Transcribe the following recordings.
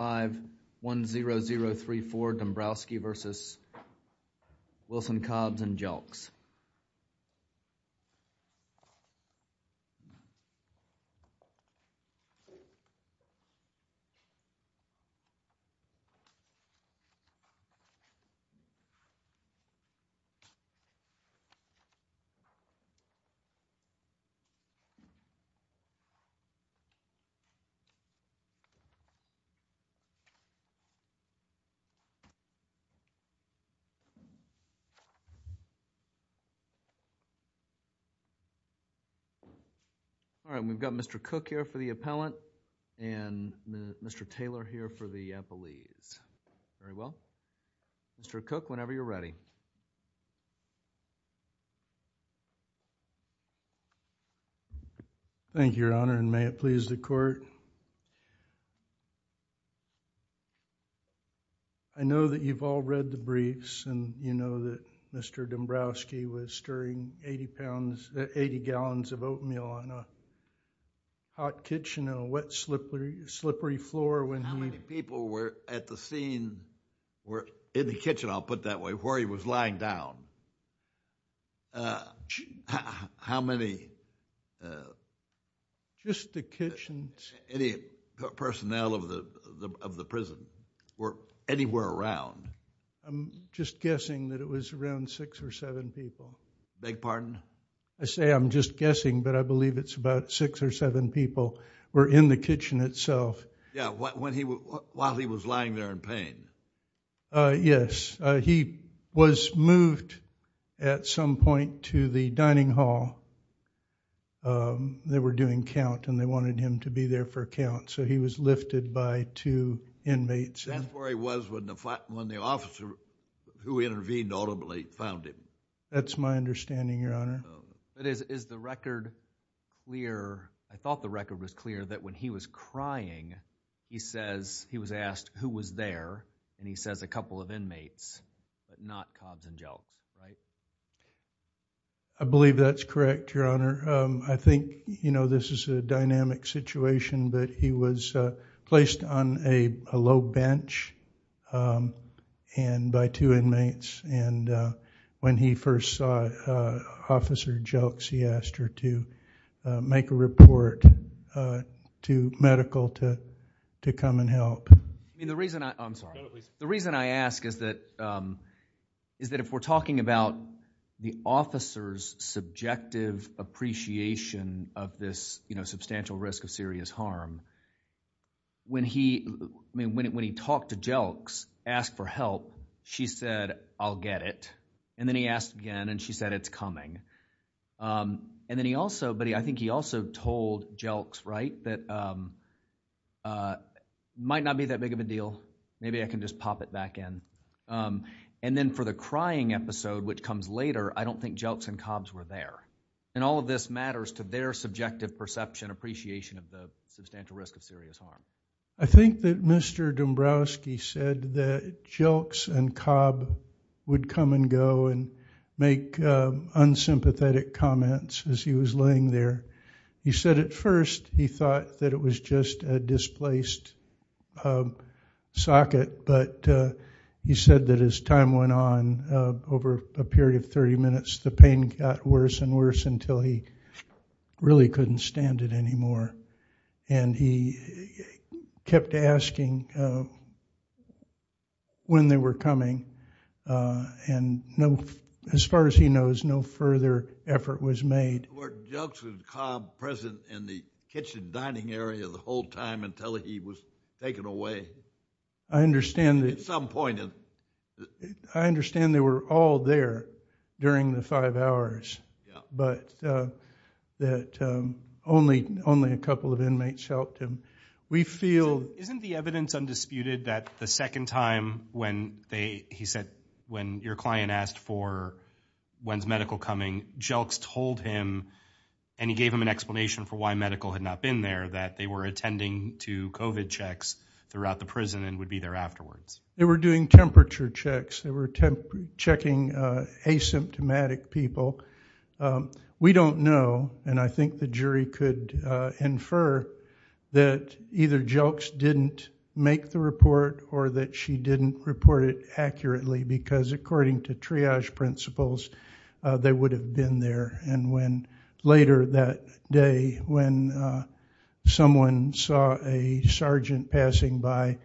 Cobbs and Jelks. All right, we've got Mr. Cook here for the appellant and Mr. Taylor here for the appellees. Very well, Mr. Cook, whenever you're ready. Thank you, Your Honor, and may it please the Court. I know that you've all read the briefs and you know that Mr. Dombrowski was stirring 80 gallons of oatmeal on a hot kitchen and a wet, slippery floor when he... When he was lying down, how many... Just the kitchens.... any personnel of the prison were anywhere around? I'm just guessing that it was around six or seven people. Beg pardon? I say I'm just guessing, but I believe it's about six or seven people were in the kitchen itself. Yeah, while he was lying there in pain. Yes, he was moved at some point to the dining hall. They were doing count and they wanted him to be there for count, so he was lifted by two inmates. That's where he was when the officer who intervened audibly found him. That's my understanding, Your Honor. Is the record clear, I thought the record was clear, that when he was crying, he says he was asked who was there and he says a couple of inmates, but not Cobbs and Jelks, right? I believe that's correct, Your Honor. I think this is a dynamic situation, but he was placed on a low bench by two inmates. When he first saw Officer Jelks, he asked her to make a report to medical to come and help. The reason I ask is that if we're talking about the officer's subjective appreciation of this substantial risk of serious harm, when he talked to Jelks, asked for help, she said, I'll get it, and then he asked again and she said, it's coming. I think he also told Jelks, right, that it might not be that big of a deal, maybe I can just pop it back in, and then for the crying episode, which comes later, I don't think Jelks and Cobbs were there. All of this matters to their subjective perception, appreciation of the substantial risk of serious harm. I think that Mr. Dombrowski said that Jelks and Cobbs would come and go and make unsympathetic comments as he was laying there. He said at first he thought that it was just a displaced socket, but he said that as time went on, over a period of 30 minutes, the pain got worse and worse until he really couldn't stand it anymore, and he kept asking when they were coming, and as far as he knows, no further effort was made. Were Jelks and Cobbs present in the kitchen dining area the whole time until he was taken away at some point? I understand they were all there during the five hours, but that only a couple of inmates helped him. We feel... Isn't the evidence undisputed that the second time when they, he said, when your client asked for when's medical coming, Jelks told him, and he gave him an explanation for why medical had not been there, that they were attending to COVID checks throughout the prison and would be there afterwards. They were doing temperature checks, they were checking asymptomatic people. We don't know, and I think the jury could infer that either Jelks didn't make the report or that she didn't report it accurately, because according to triage principles, they would have been there, and when later that day, when someone saw a sergeant passing by,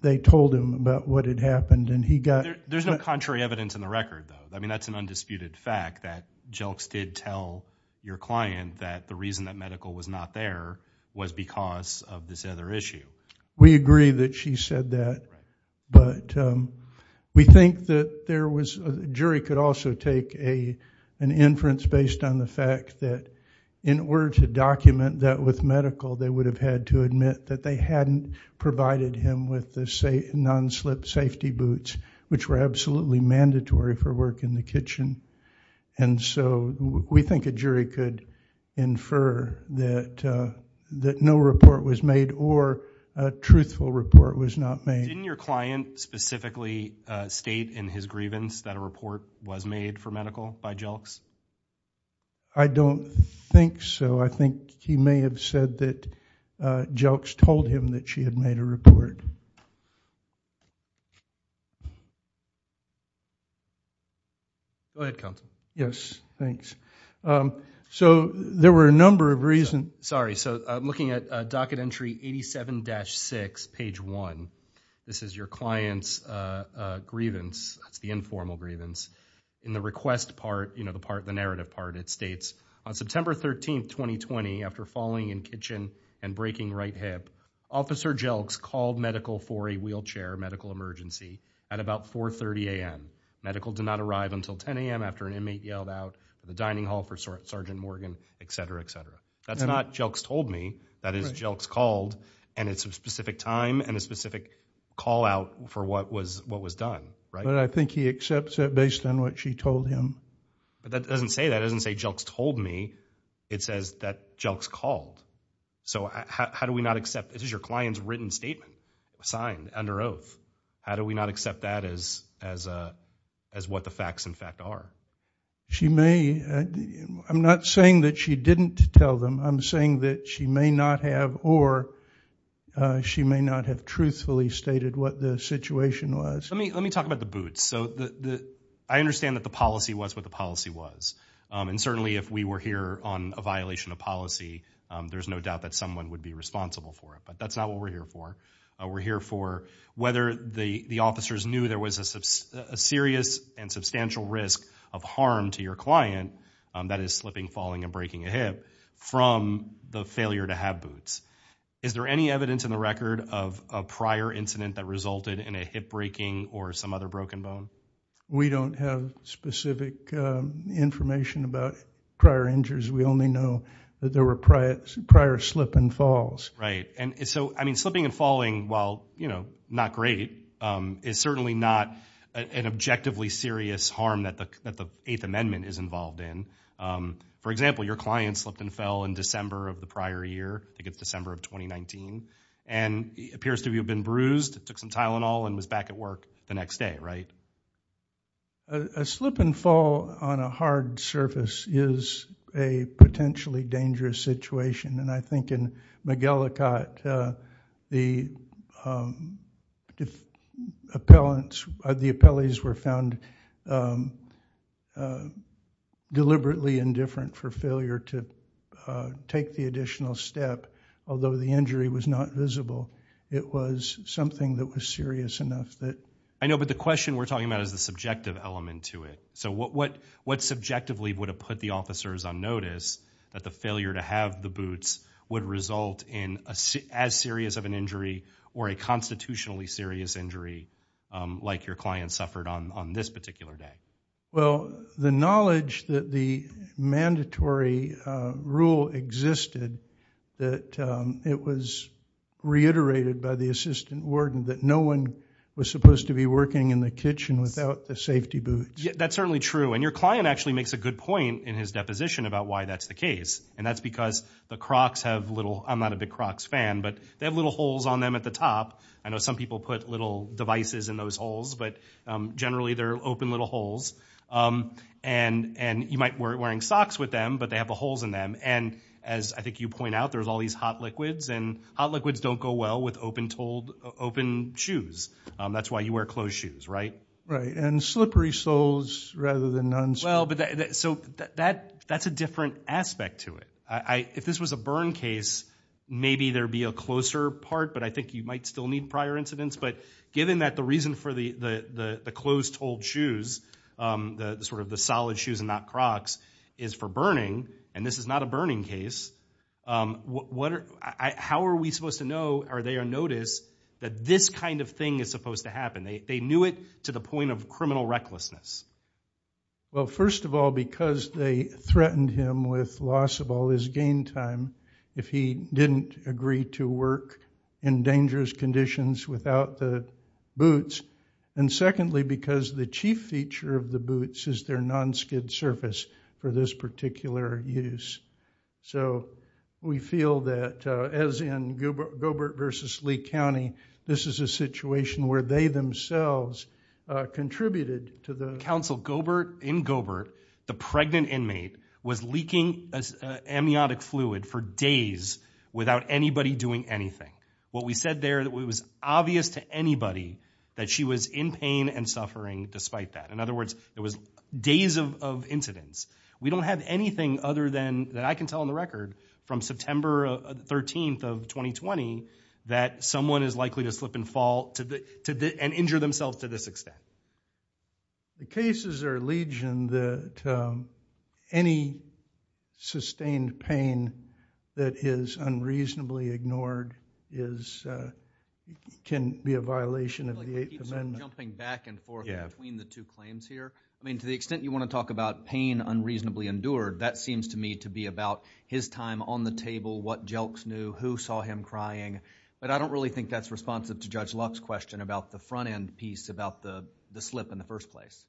they told him about what had happened, and he got... There's no contrary evidence in the record, though. I mean, that's an undisputed fact that Jelks did tell your client that the reason that medical was not there was because of this other issue. We agree that she said that, but we think that there was... Jury could also take an inference based on the fact that in order to document that with medical, they would have had to admit that they hadn't provided him with the non-slip safety boots, which were absolutely mandatory for work in the kitchen. And so we think a jury could infer that no report was made or a truthful report was not made. Didn't your client specifically state in his grievance that a report was made for medical by Jelks? I don't think so. I think he may have said that Jelks told him that she had made a report. Go ahead, Counselor. Yes, thanks. So there were a number of reasons... Sorry. So I'm looking at docket entry 87-6, page 1. This is your client's grievance, that's the informal grievance. In the request part, the narrative part, it states, on September 13, 2020, after falling in kitchen and breaking right hip, Officer Jelks called medical for a wheelchair medical emergency at about 4.30 a.m. Medical did not arrive until 10 a.m. after an inmate yelled out, the dining hall for Sergeant Morgan, et cetera, et cetera. That's not Jelks told me, that is Jelks called, and it's a specific time and a specific call out for what was done, right? But I think he accepts that based on what she told him. But that doesn't say, that doesn't say Jelks told me, it says that Jelks called. So how do we not accept, this is your client's written statement, signed under oath. How do we not accept that as what the facts, in fact, are? She may, I'm not saying that she didn't tell them, I'm saying that she may not have, or she may not have truthfully stated what the situation was. Let me talk about the boots. So I understand that the policy was what the policy was. And certainly if we were here on a violation of policy, there's no doubt that someone would be responsible for it, but that's not what we're here for. We're here for whether the officers knew there was a serious and substantial risk of harm to your client, that is slipping, falling, and breaking a hip, from the failure to have boots. Is there any evidence in the record of a prior incident that resulted in a hip breaking or some other broken bone? We don't have specific information about prior injuries. We only know that there were prior slip and falls. And so, I mean, slipping and falling, while, you know, not great, is certainly not an objectively serious harm that the Eighth Amendment is involved in. For example, your client slipped and fell in December of the prior year, I think it's December of 2019, and it appears to have been bruised, took some Tylenol, and was back at work the next day, right? A slip and fall on a hard surface is a potentially dangerous situation. And I think in McGillicott, the appellants, the appellees were found deliberately indifferent for failure to take the additional step, although the injury was not visible. It was something that was serious enough that... I know, but the question we're talking about is the subjective element to it. So what subjectively would have put the officers on notice that the failure to have the boots would result in as serious of an injury or a constitutionally serious injury like your client suffered on this particular day? Well, the knowledge that the mandatory rule existed, that it was reiterated by the assistant warden that no one was supposed to be working in the kitchen without the safety boots. Yeah, that's certainly true. And your client actually makes a good point in his deposition about why that's the case. And that's because the Crocs have little... I'm not a big Crocs fan, but they have little holes on them at the top. I know some people put little devices in those holes, but generally they're open little holes. And you might wear wearing socks with them, but they have the holes in them. And as I think you point out, there's all these hot liquids and hot liquids don't go well with open-toed, open shoes. That's why you wear closed shoes, right? Right. And slippery soles rather than non-slippery. Well, so that's a different aspect to it. If this was a burn case, maybe there'd be a closer part, but I think you might still need prior incidents. But given that the reason for the closed-toed shoes, the sort of the solid shoes and not Crocs is for burning, and this is not a burning case, how are we supposed to know, are they on notice that this kind of thing is supposed to happen? They knew it to the point of criminal recklessness. Well, first of all, because they threatened him with loss of all his gain time if he didn't agree to work in dangerous conditions without the boots. And secondly, because the chief feature of the boots is their non-skid surface for this particular use. So we feel that as in Gilbert versus Lee County, this is a situation where they themselves contributed to the... Counsel, in Gilbert, the pregnant inmate was leaking amniotic fluid for days without anybody doing anything. What we said there that it was obvious to anybody that she was in pain and suffering despite that. In other words, it was days of incidents. We don't have anything other than that I can tell on the record from September 13th of 2020 that someone is likely to slip and fall and injure themselves to this extent. The cases are legion that any sustained pain that is unreasonably ignored can be a violation of the Eighth Amendment. Jumping back and forth between the two claims here, I mean, to the extent you want to talk about pain unreasonably endured, that seems to me to be about his time on the table, what Elks knew, who saw him crying, but I don't really think that's responsive to Judge Luck's question about the front end piece about the slip in the first place,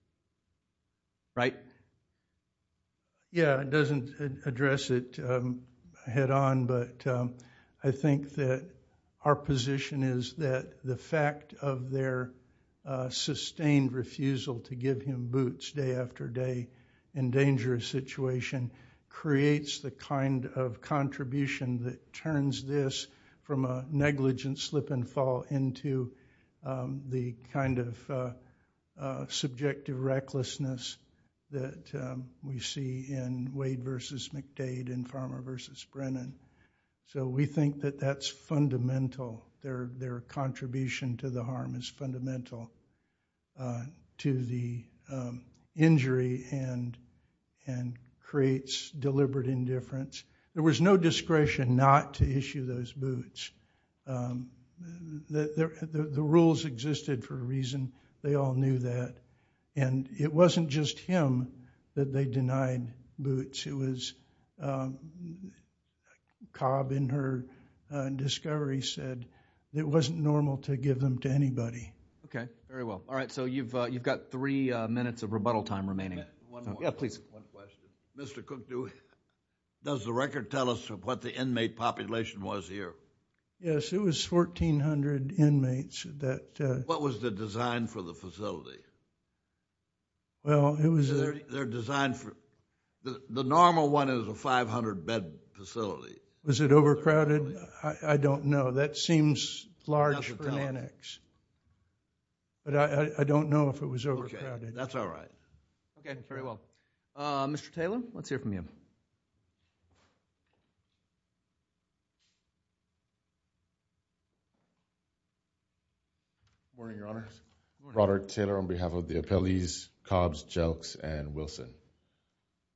right? Yeah, it doesn't address it head on, but I think that our position is that the fact of their sustained refusal to give him boots day after day in dangerous situation creates the kind of contribution that turns this from a negligent slip and fall into the kind of subjective recklessness that we see in Wade versus McDade and Farmer versus Brennan. So we think that that's fundamental. Their contribution to the harm is fundamental to the injury and creates deliberate indifference. There was no discretion not to issue those boots. The rules existed for a reason, they all knew that, and it wasn't just him that they denied boots. It was Cobb in her discovery said it wasn't normal to give them to anybody. Okay, very well. All right, so you've got three minutes of rebuttal time remaining. Yeah, please. One question. Mr. Cook, does the record tell us what the inmate population was here? Yes, it was 1,400 inmates that... What was the design for the facility? Well, it was... They're designed for... The normal one is a 500-bed facility. Was it overcrowded? I don't know. That seems large for an annex, but I don't know if it was overcrowded. That's all right. Okay, very well. Mr. Taylor, let's hear from you. Good morning, Your Honor. Good morning. I'm Mark Taylor on behalf of the appellees, Cobbs, Jelks, and Wilson.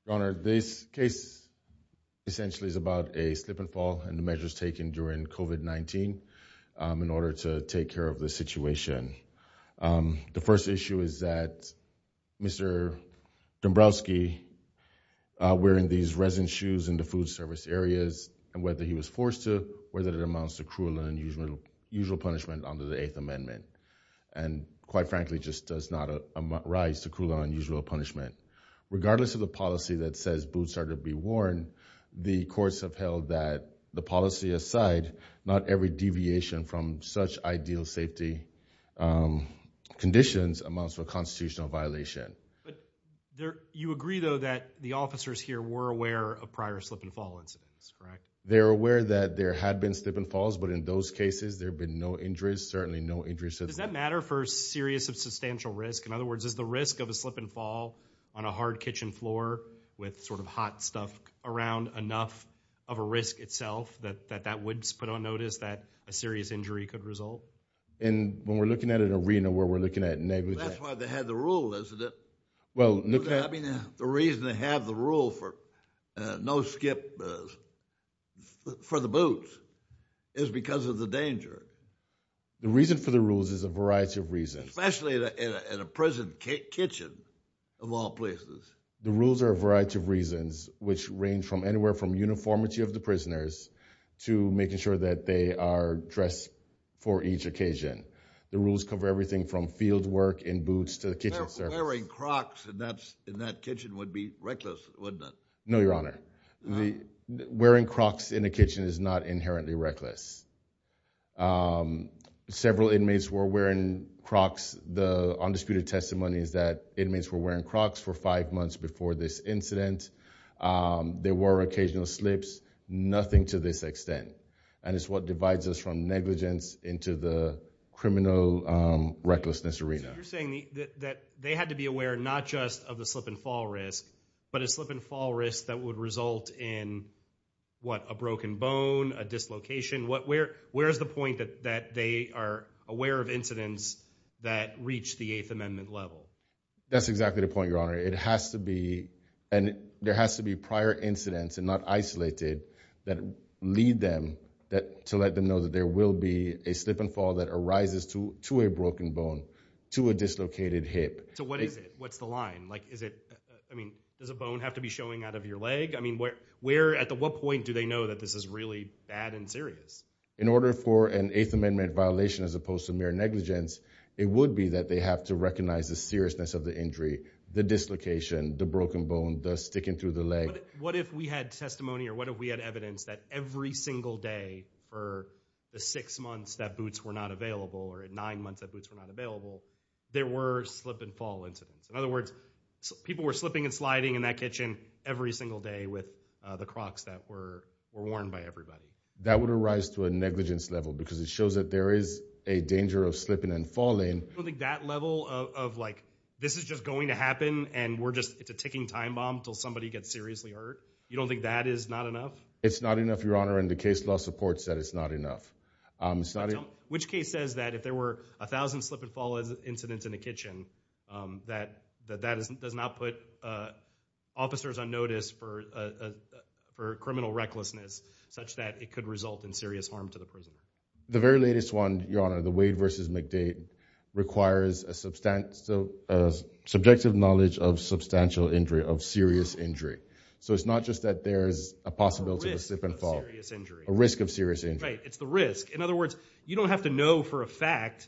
Your Honor, this case essentially is about a slip and fall and the measures taken during COVID-19 in order to take care of the situation. The first issue is that Mr. Dombrowski wearing these resin shoes in the food service areas and whether he was forced to, whether it amounts to cruel and unusual punishment under the Amendment, and quite frankly, just does not arise to cruel and unusual punishment. Regardless of the policy that says boots are to be worn, the courts have held that the policy aside, not every deviation from such ideal safety conditions amounts to a constitutional violation. You agree though that the officers here were aware of prior slip and fall incidents, correct? They're aware that there had been slip and falls, but in those cases, there have been no injuries. Certainly no injuries. Does that matter for serious or substantial risk? In other words, is the risk of a slip and fall on a hard kitchen floor with sort of hot stuff around enough of a risk itself that that would put on notice that a serious injury could result? And when we're looking at an arena where we're looking at negligence. That's why they had the rule, isn't it? Well, look at it. I mean, the reason they have the rule for no skip for the boots is because of the danger. The reason for the rules is a variety of reasons. Especially in a prison kitchen, of all places. The rules are a variety of reasons, which range from anywhere from uniformity of the prisoners to making sure that they are dressed for each occasion. The rules cover everything from field work in boots to the kitchen surface. Wearing Crocs in that kitchen would be reckless, wouldn't it? No, Your Honor. Wearing Crocs in the kitchen is not inherently reckless. Several inmates were wearing Crocs. The undisputed testimony is that inmates were wearing Crocs for five months before this incident. There were occasional slips. Nothing to this extent. And it's what divides us from negligence into the criminal recklessness arena. You're saying that they had to be aware not just of the slip and fall risk, but a slip and fall risk that would result in, what, a broken bone, a dislocation? Where's the point that they are aware of incidents that reach the Eighth Amendment level? That's exactly the point, Your Honor. It has to be, and there has to be prior incidents and not isolated that lead them to let them know that there will be a slip and fall that arises to a broken bone, to a dislocated hip. So what is it? What's the line? Like, is it, I mean, does a bone have to be showing out of your leg? I mean, where, at what point do they know that this is really bad and serious? In order for an Eighth Amendment violation as opposed to mere negligence, it would be that they have to recognize the seriousness of the injury, the dislocation, the broken bone, the sticking through the leg. What if we had testimony or what if we had evidence that every single day for the six months that boots were not available or at nine months that boots were not available, there were slip and fall incidents? In other words, people were slipping and sliding in that kitchen every single day with the Crocs that were worn by everybody. That would arise to a negligence level because it shows that there is a danger of slipping and falling. I don't think that level of, like, this is just going to happen and we're just, it's a ticking time bomb until somebody gets seriously hurt. You don't think that is not enough? It's not enough, Your Honor, and the case law supports that it's not enough. Which case says that if there were a thousand slip and fall incidents in the kitchen, that that does not put officers on notice for criminal recklessness such that it could result in serious harm to the person? The very latest one, Your Honor, the Wade v. McDade, requires a subjective knowledge of substantial injury, of serious injury. So it's not just that there's a possibility of a slip and fall, a risk of serious injury. Right, it's the risk. In other words, you don't have to know for a fact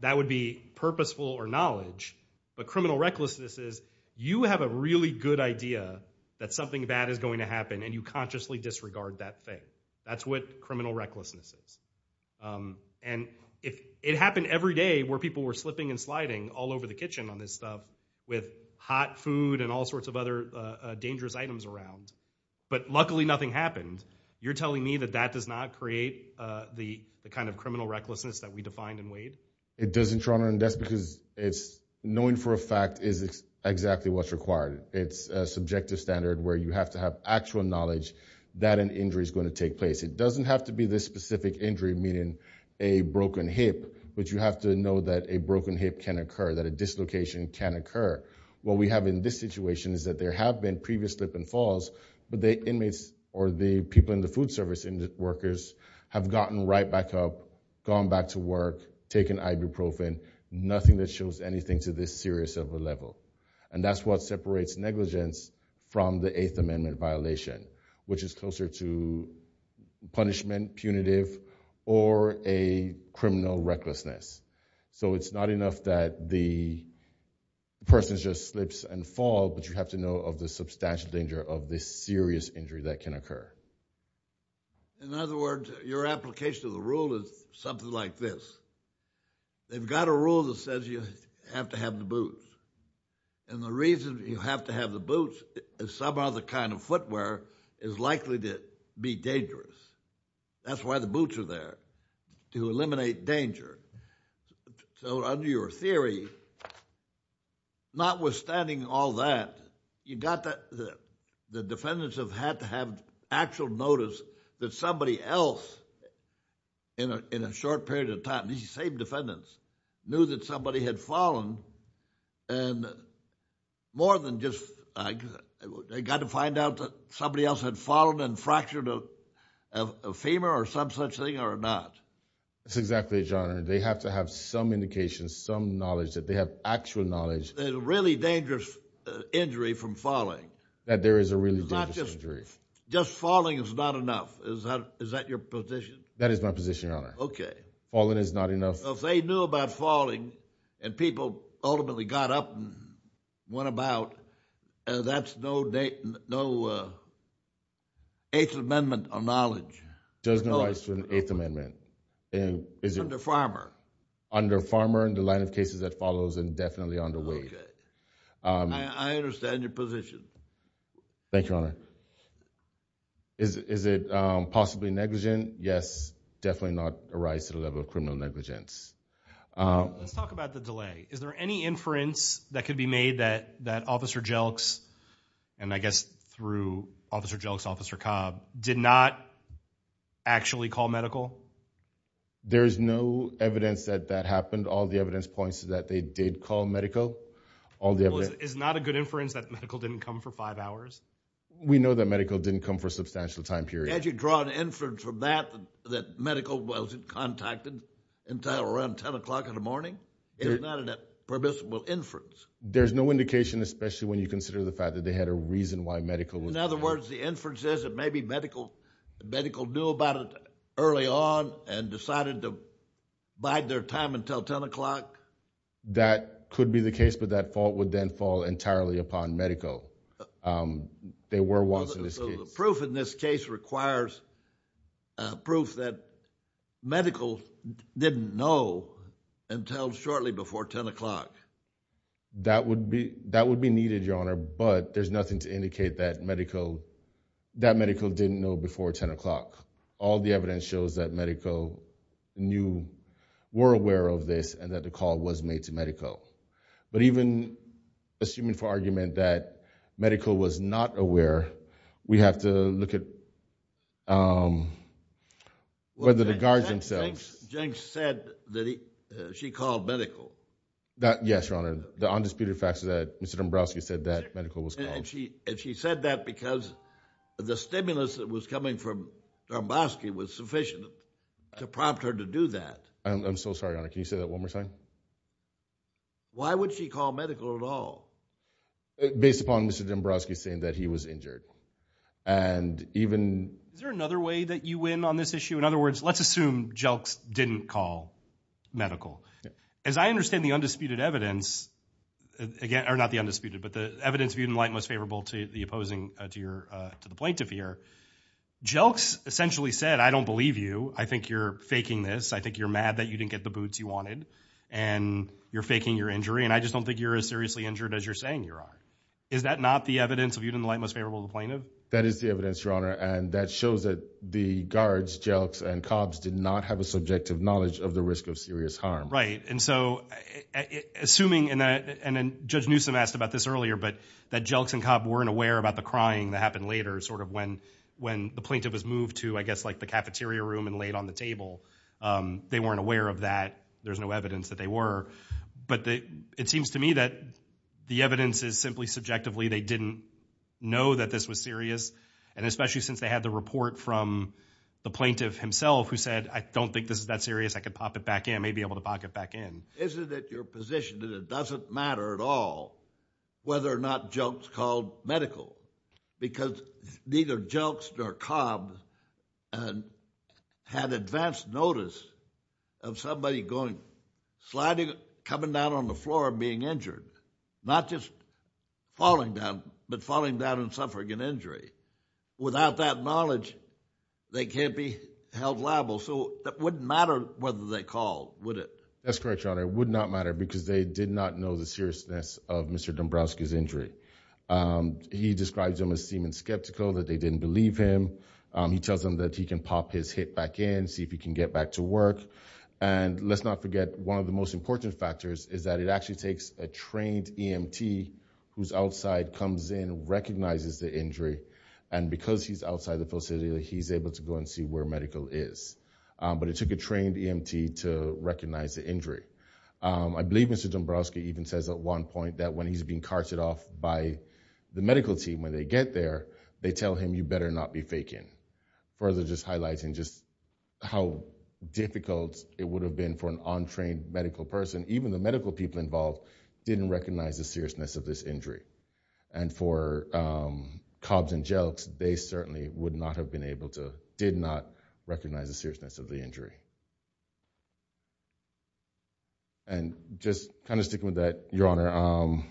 that would be purposeful or knowledge, but criminal recklessness is you have a really good idea that something bad is going to happen and you consciously disregard that thing. That's what criminal recklessness is. And it happened every day where people were slipping and sliding all over the kitchen on this stuff with hot food and all sorts of other dangerous items around. But luckily nothing happened. You're telling me that that does not create the kind of criminal recklessness that we defined in Wade? It doesn't, Your Honor, and that's because knowing for a fact is exactly what's required. It's a subjective standard where you have to have actual knowledge that an injury is going to take place. It doesn't have to be this specific injury, meaning a broken hip, but you have to know that a broken hip can occur, that a dislocation can occur. What we have in this situation is that there have been previous slip and falls, but the inmates or the people in the food service, the workers, have gotten right back up, gone back to work, taken ibuprofen, nothing that shows anything to this serious of a level. And that's what separates negligence from the Eighth Amendment violation, which is closer to punishment, punitive, or a criminal recklessness. So it's not enough that the person just slips and falls, but you have to know of the substantial danger of this serious injury that can occur. In other words, your application of the rule is something like this. They've got a rule that says you have to have the boots, and the reason you have to have the boots is some other kind of footwear is likely to be dangerous. That's why the boots are there, to eliminate danger. So under your theory, notwithstanding all that, the defendants have had to have actual notice that somebody else in a short period of time, these same defendants, knew that somebody had fallen, and more than just, they got to find out that somebody else had fallen and fractured a femur, or some such thing, or not. That's exactly it, Your Honor. They have to have some indication, some knowledge, that they have actual knowledge. There's a really dangerous injury from falling. That there is a really dangerous injury. Just falling is not enough, is that your position? That is my position, Your Honor. Okay. Falling is not enough. If they knew about falling, and people ultimately got up and went about, that's no Eighth Amendment or knowledge. There's no rights to an Eighth Amendment. Under Farmer. Under Farmer, and the line of cases that follows, and definitely under Wade. I understand your position. Thank you, Your Honor. Is it possibly negligent? Yes, definitely not a rise to the level of criminal negligence. Let's talk about the delay. Is there any inference that could be made that Officer Jelks, and I guess through Officer Jelks, Officer Cobb, did not actually call medical? There's no evidence that that happened. All the evidence points to that they did call medical. All the evidence- Is not a good inference that medical didn't come for five hours? We know that medical didn't come for a substantial time period. Can't you draw an inference from that, that medical wasn't contacted until around 10 o'clock in the morning? It is not a permissible inference. There's no indication, especially when you consider the fact that they had a reason why medical was- In other words, the inference is that maybe medical knew about it early on, and decided to bide their time until 10 o'clock? That could be the case, but that fault would then fall entirely upon medical. They were once in this case. So the proof in this case requires proof that medical didn't know until shortly before 10 o'clock. That would be needed, Your Honor, but there's nothing to indicate that medical didn't know before 10 o'clock. All the evidence shows that medical knew, were aware of this, and that the call was made to medical. But even assuming for argument that medical was not aware, we have to look at whether the guards themselves- Jenks said that she called medical. Yes, Your Honor. The undisputed fact is that Mr. Dombrowski said that medical was called. And she said that because the stimulus that was coming from Dombrowski was sufficient to prompt her to do that. I'm so sorry, Your Honor. Can you say that one more time? Why would she call medical at all? Based upon Mr. Dombrowski saying that he was injured. And even- Is there another way that you win on this issue? In other words, let's assume Jelks didn't call medical. As I understand the undisputed evidence, again, or not the undisputed, but the evidence viewed in light most favorable to the opposing, to the plaintiff here, Jelks essentially said, I don't believe you. I think you're faking this. I think you're mad that you didn't get the boots you wanted, and you're faking your injury. And I just don't think you're as seriously injured as you're saying you are. Is that not the evidence viewed in the light most favorable to the plaintiff? That is the evidence, Your Honor. And that shows that the guards, Jelks and Cobbs, did not have a subjective knowledge of the risk of serious harm. Right. And so, assuming, and then Judge Newsom asked about this earlier, but that Jelks and Cobb weren't aware about the crying that happened later, sort of when the plaintiff was moved to, I guess, like the cafeteria room and laid on the table. They weren't aware of that. There's no evidence that they were. But it seems to me that the evidence is simply subjectively they didn't know that this was serious. And especially since they had the report from the plaintiff himself who said, I don't think this is that serious. I could pop it back in. I may be able to pop it back in. Isn't it your position that it doesn't matter at all whether or not Jelks called medical? Because neither Jelks nor Cobbs had advanced notice of somebody going, sliding, coming down on the floor and being injured. Not just falling down, but falling down and suffering an injury. Without that knowledge, they can't be held liable. So it wouldn't matter whether they called, would it? That's correct, Your Honor. It would not matter because they did not know the seriousness of Mr. Dombrowski's injury. He describes them as seeming skeptical that they didn't believe him. He tells them that he can pop his hip back in, see if he can get back to work. And let's not forget one of the most important factors is that it actually takes a trained EMT whose outside comes in and recognizes the injury. And because he's outside the facility, he's able to go and see where medical is. But it took a trained EMT to recognize the injury. I believe Mr. Dombrowski even says at one point that when he's being carted off by the medical team, when they get there, they tell him, you better not be faking. Further just highlighting just how difficult it would have been for an untrained medical person, even the medical people involved didn't recognize the seriousness of this injury. And for Cobbs and Jelks, they certainly would not have been able to, did not recognize the seriousness of the injury. And just kind of sticking with that, Your Honor,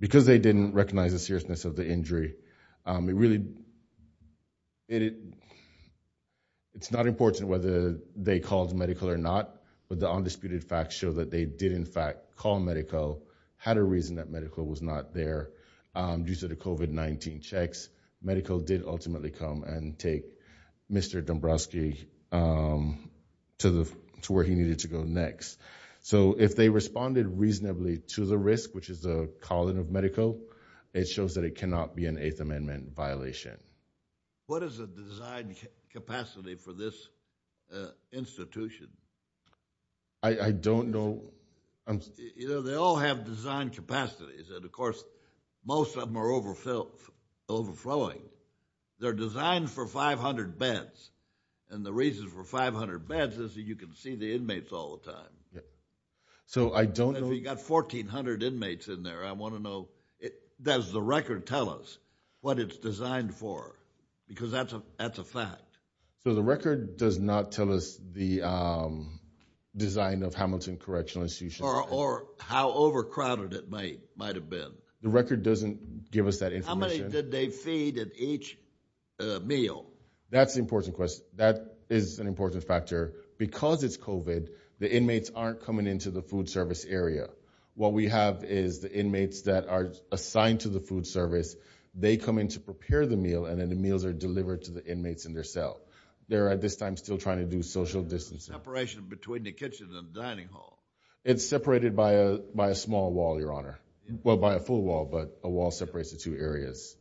because they didn't recognize the seriousness of the injury, it really, it's not important whether they called medical or not, but the undisputed facts show that they did in fact call medical, had a reason that medical was not there. Due to the COVID-19 checks, medical did ultimately come and take Mr. Dombrowski to where he needed to go next. So if they responded reasonably to the risk, which is the calling of medical, it shows that it cannot be an Eighth Amendment violation. What is the design capacity for this institution? I don't know. You know, they all have design capacities, and of course, most of them are overflowing. They're designed for 500 beds. And the reason for 500 beds is that you can see the inmates all the time. So I don't know. If you've got 1,400 inmates in there, I want to know, does the record tell us what it's designed for? Because that's a fact. So the record does not tell us the design of Hamilton Correctional Institution. Or how overcrowded it might have been. The record doesn't give us that information. How many did they feed at each meal? That's an important question. That is an important factor. Because it's COVID, the inmates aren't coming into the food service area. What we have is the inmates that are assigned to the food service, they come in to prepare the meal, and then the meals are delivered to the inmates in their cell. They're at this time still trying to do social distancing. Separation between the kitchen and the dining hall. It's separated by a small wall, Your Honor. Well, by a full wall, but a wall separates the two areas.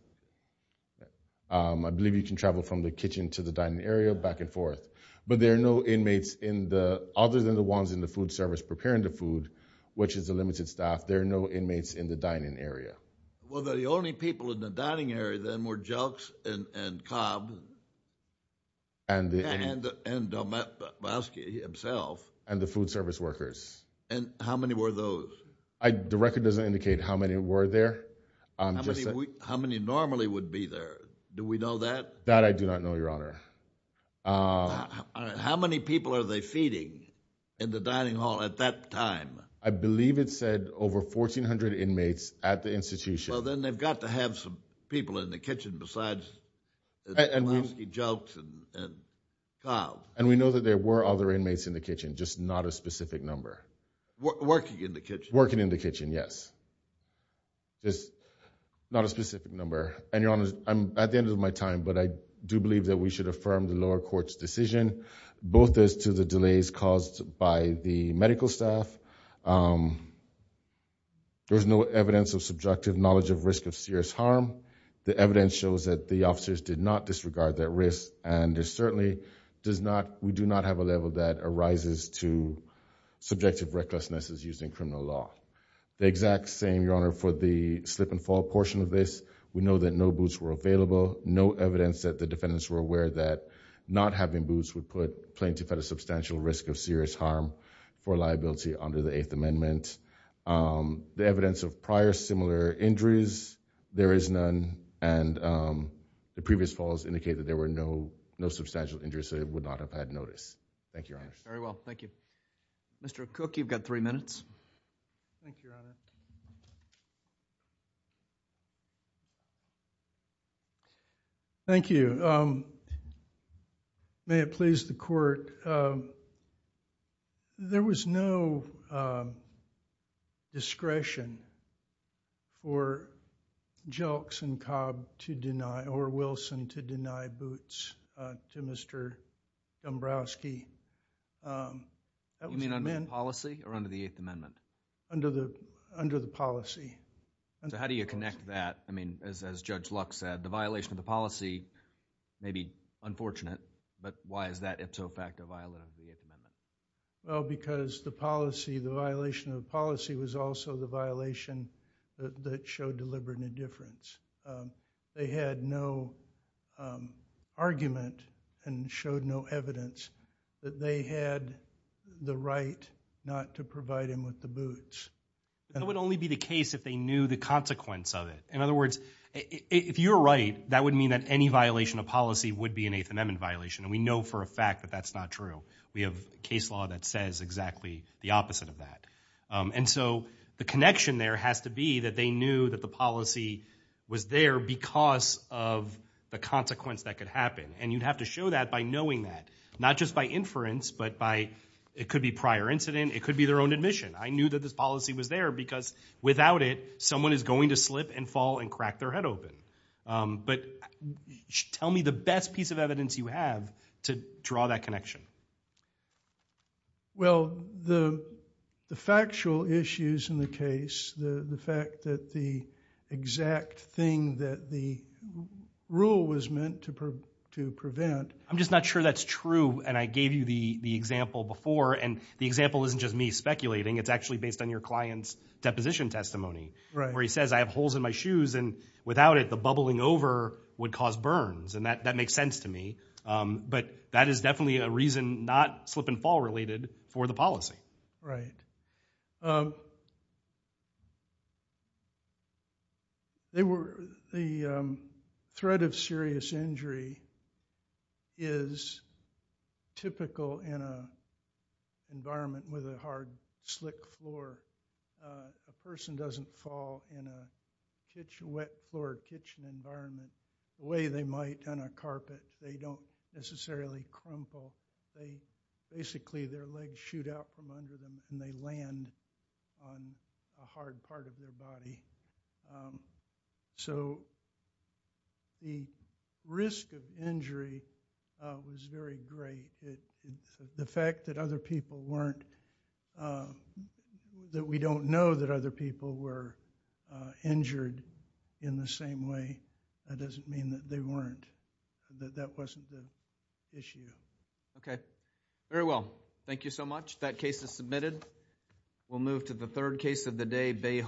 I believe you can travel from the kitchen to the dining area, back and forth. But there are no inmates in the, other than the ones in the food service preparing the food, which is the limited staff, there are no inmates in the dining area. Well, the only people in the dining area then were Jelks and Cobb. And Delmaski himself. And the food service workers. And how many were those? The record doesn't indicate how many were there. How many normally would be there? Do we know that? That I do not know, Your Honor. How many people are they feeding in the dining hall at that time? I believe it said over 1,400 inmates at the institution. Well, then they've got to have some people in the kitchen besides the Jelks and Cobb. And we know that there were other inmates in the kitchen, just not a specific number. Working in the kitchen? Working in the kitchen, yes. Just not a specific number. And Your Honor, I'm at the end of my time, but I do believe that we should affirm the lower court's decision, both as to the delays caused by the medical staff, there's no evidence of subjective knowledge of risk of serious harm. The evidence shows that the officers did not disregard that risk, and there certainly does not, we do not have a level that arises to subjective recklessness as used in criminal law. The exact same, Your Honor, for the slip and fall portion of this, we know that no boots were available, no evidence that the defendants were aware that not having boots would put plaintiff at a substantial risk of serious harm for liability under the Eighth Amendment. The evidence of prior similar injuries, there is none, and the previous falls indicate that there were no substantial injuries, so they would not have had notice. Thank you, Your Honor. Very well, thank you. Mr. Cook, you've got three minutes. Thank you, Your Honor. Thank you. May it please the court, there was no discretion for Jelks and Cobb to deny, or Wilson to deny boots to Mr. Dombrowski. You mean under the policy, or under the Eighth Amendment? Under the policy. So how do you connect that, I mean, as Judge Luck said, the violation of the policy may be unfortunate, but why is that if so fact a violation of the Eighth Amendment? Well, because the policy, the violation of the policy was also the violation that showed deliberate indifference. They had no argument and showed no evidence that they had the right not to provide him with the boots. That would only be the case if they knew the consequence of it. In other words, if you're right, that would mean that any violation of policy would be an Eighth Amendment violation, and we know for a fact that that's not true. We have case law that says exactly the opposite of that. And so the connection there has to be that they knew that the policy was there because of the consequence that could happen. And you'd have to show that by knowing that, not just by inference, but by, it could be prior incident, it could be their own admission. I knew that this policy was there because without it, someone is going to slip and fall and crack their head open. But tell me the best piece of evidence you have to draw that connection. Well, the factual issues in the case, the fact that the exact thing that the rule was meant to prevent. I'm just not sure that's true. And I gave you the example before, and the example isn't just me speculating. It's actually based on your client's deposition testimony, where he says, I have holes in my shoes, and without it, the bubbling over would cause burns. And that makes sense to me. But that is definitely a reason not slip and fall related for the policy. The threat of serious injury is typical in an environment with a hard, slick floor. A person doesn't fall in a wet floor kitchen environment the way they might on a carpet. They don't necessarily crumple. Basically, their legs shoot out from under them, and they land on a hard part of their body. So the risk of injury was very great. The fact that other people weren't, that we don't know that other people were injured in the same way, that doesn't mean that they weren't. That wasn't the issue.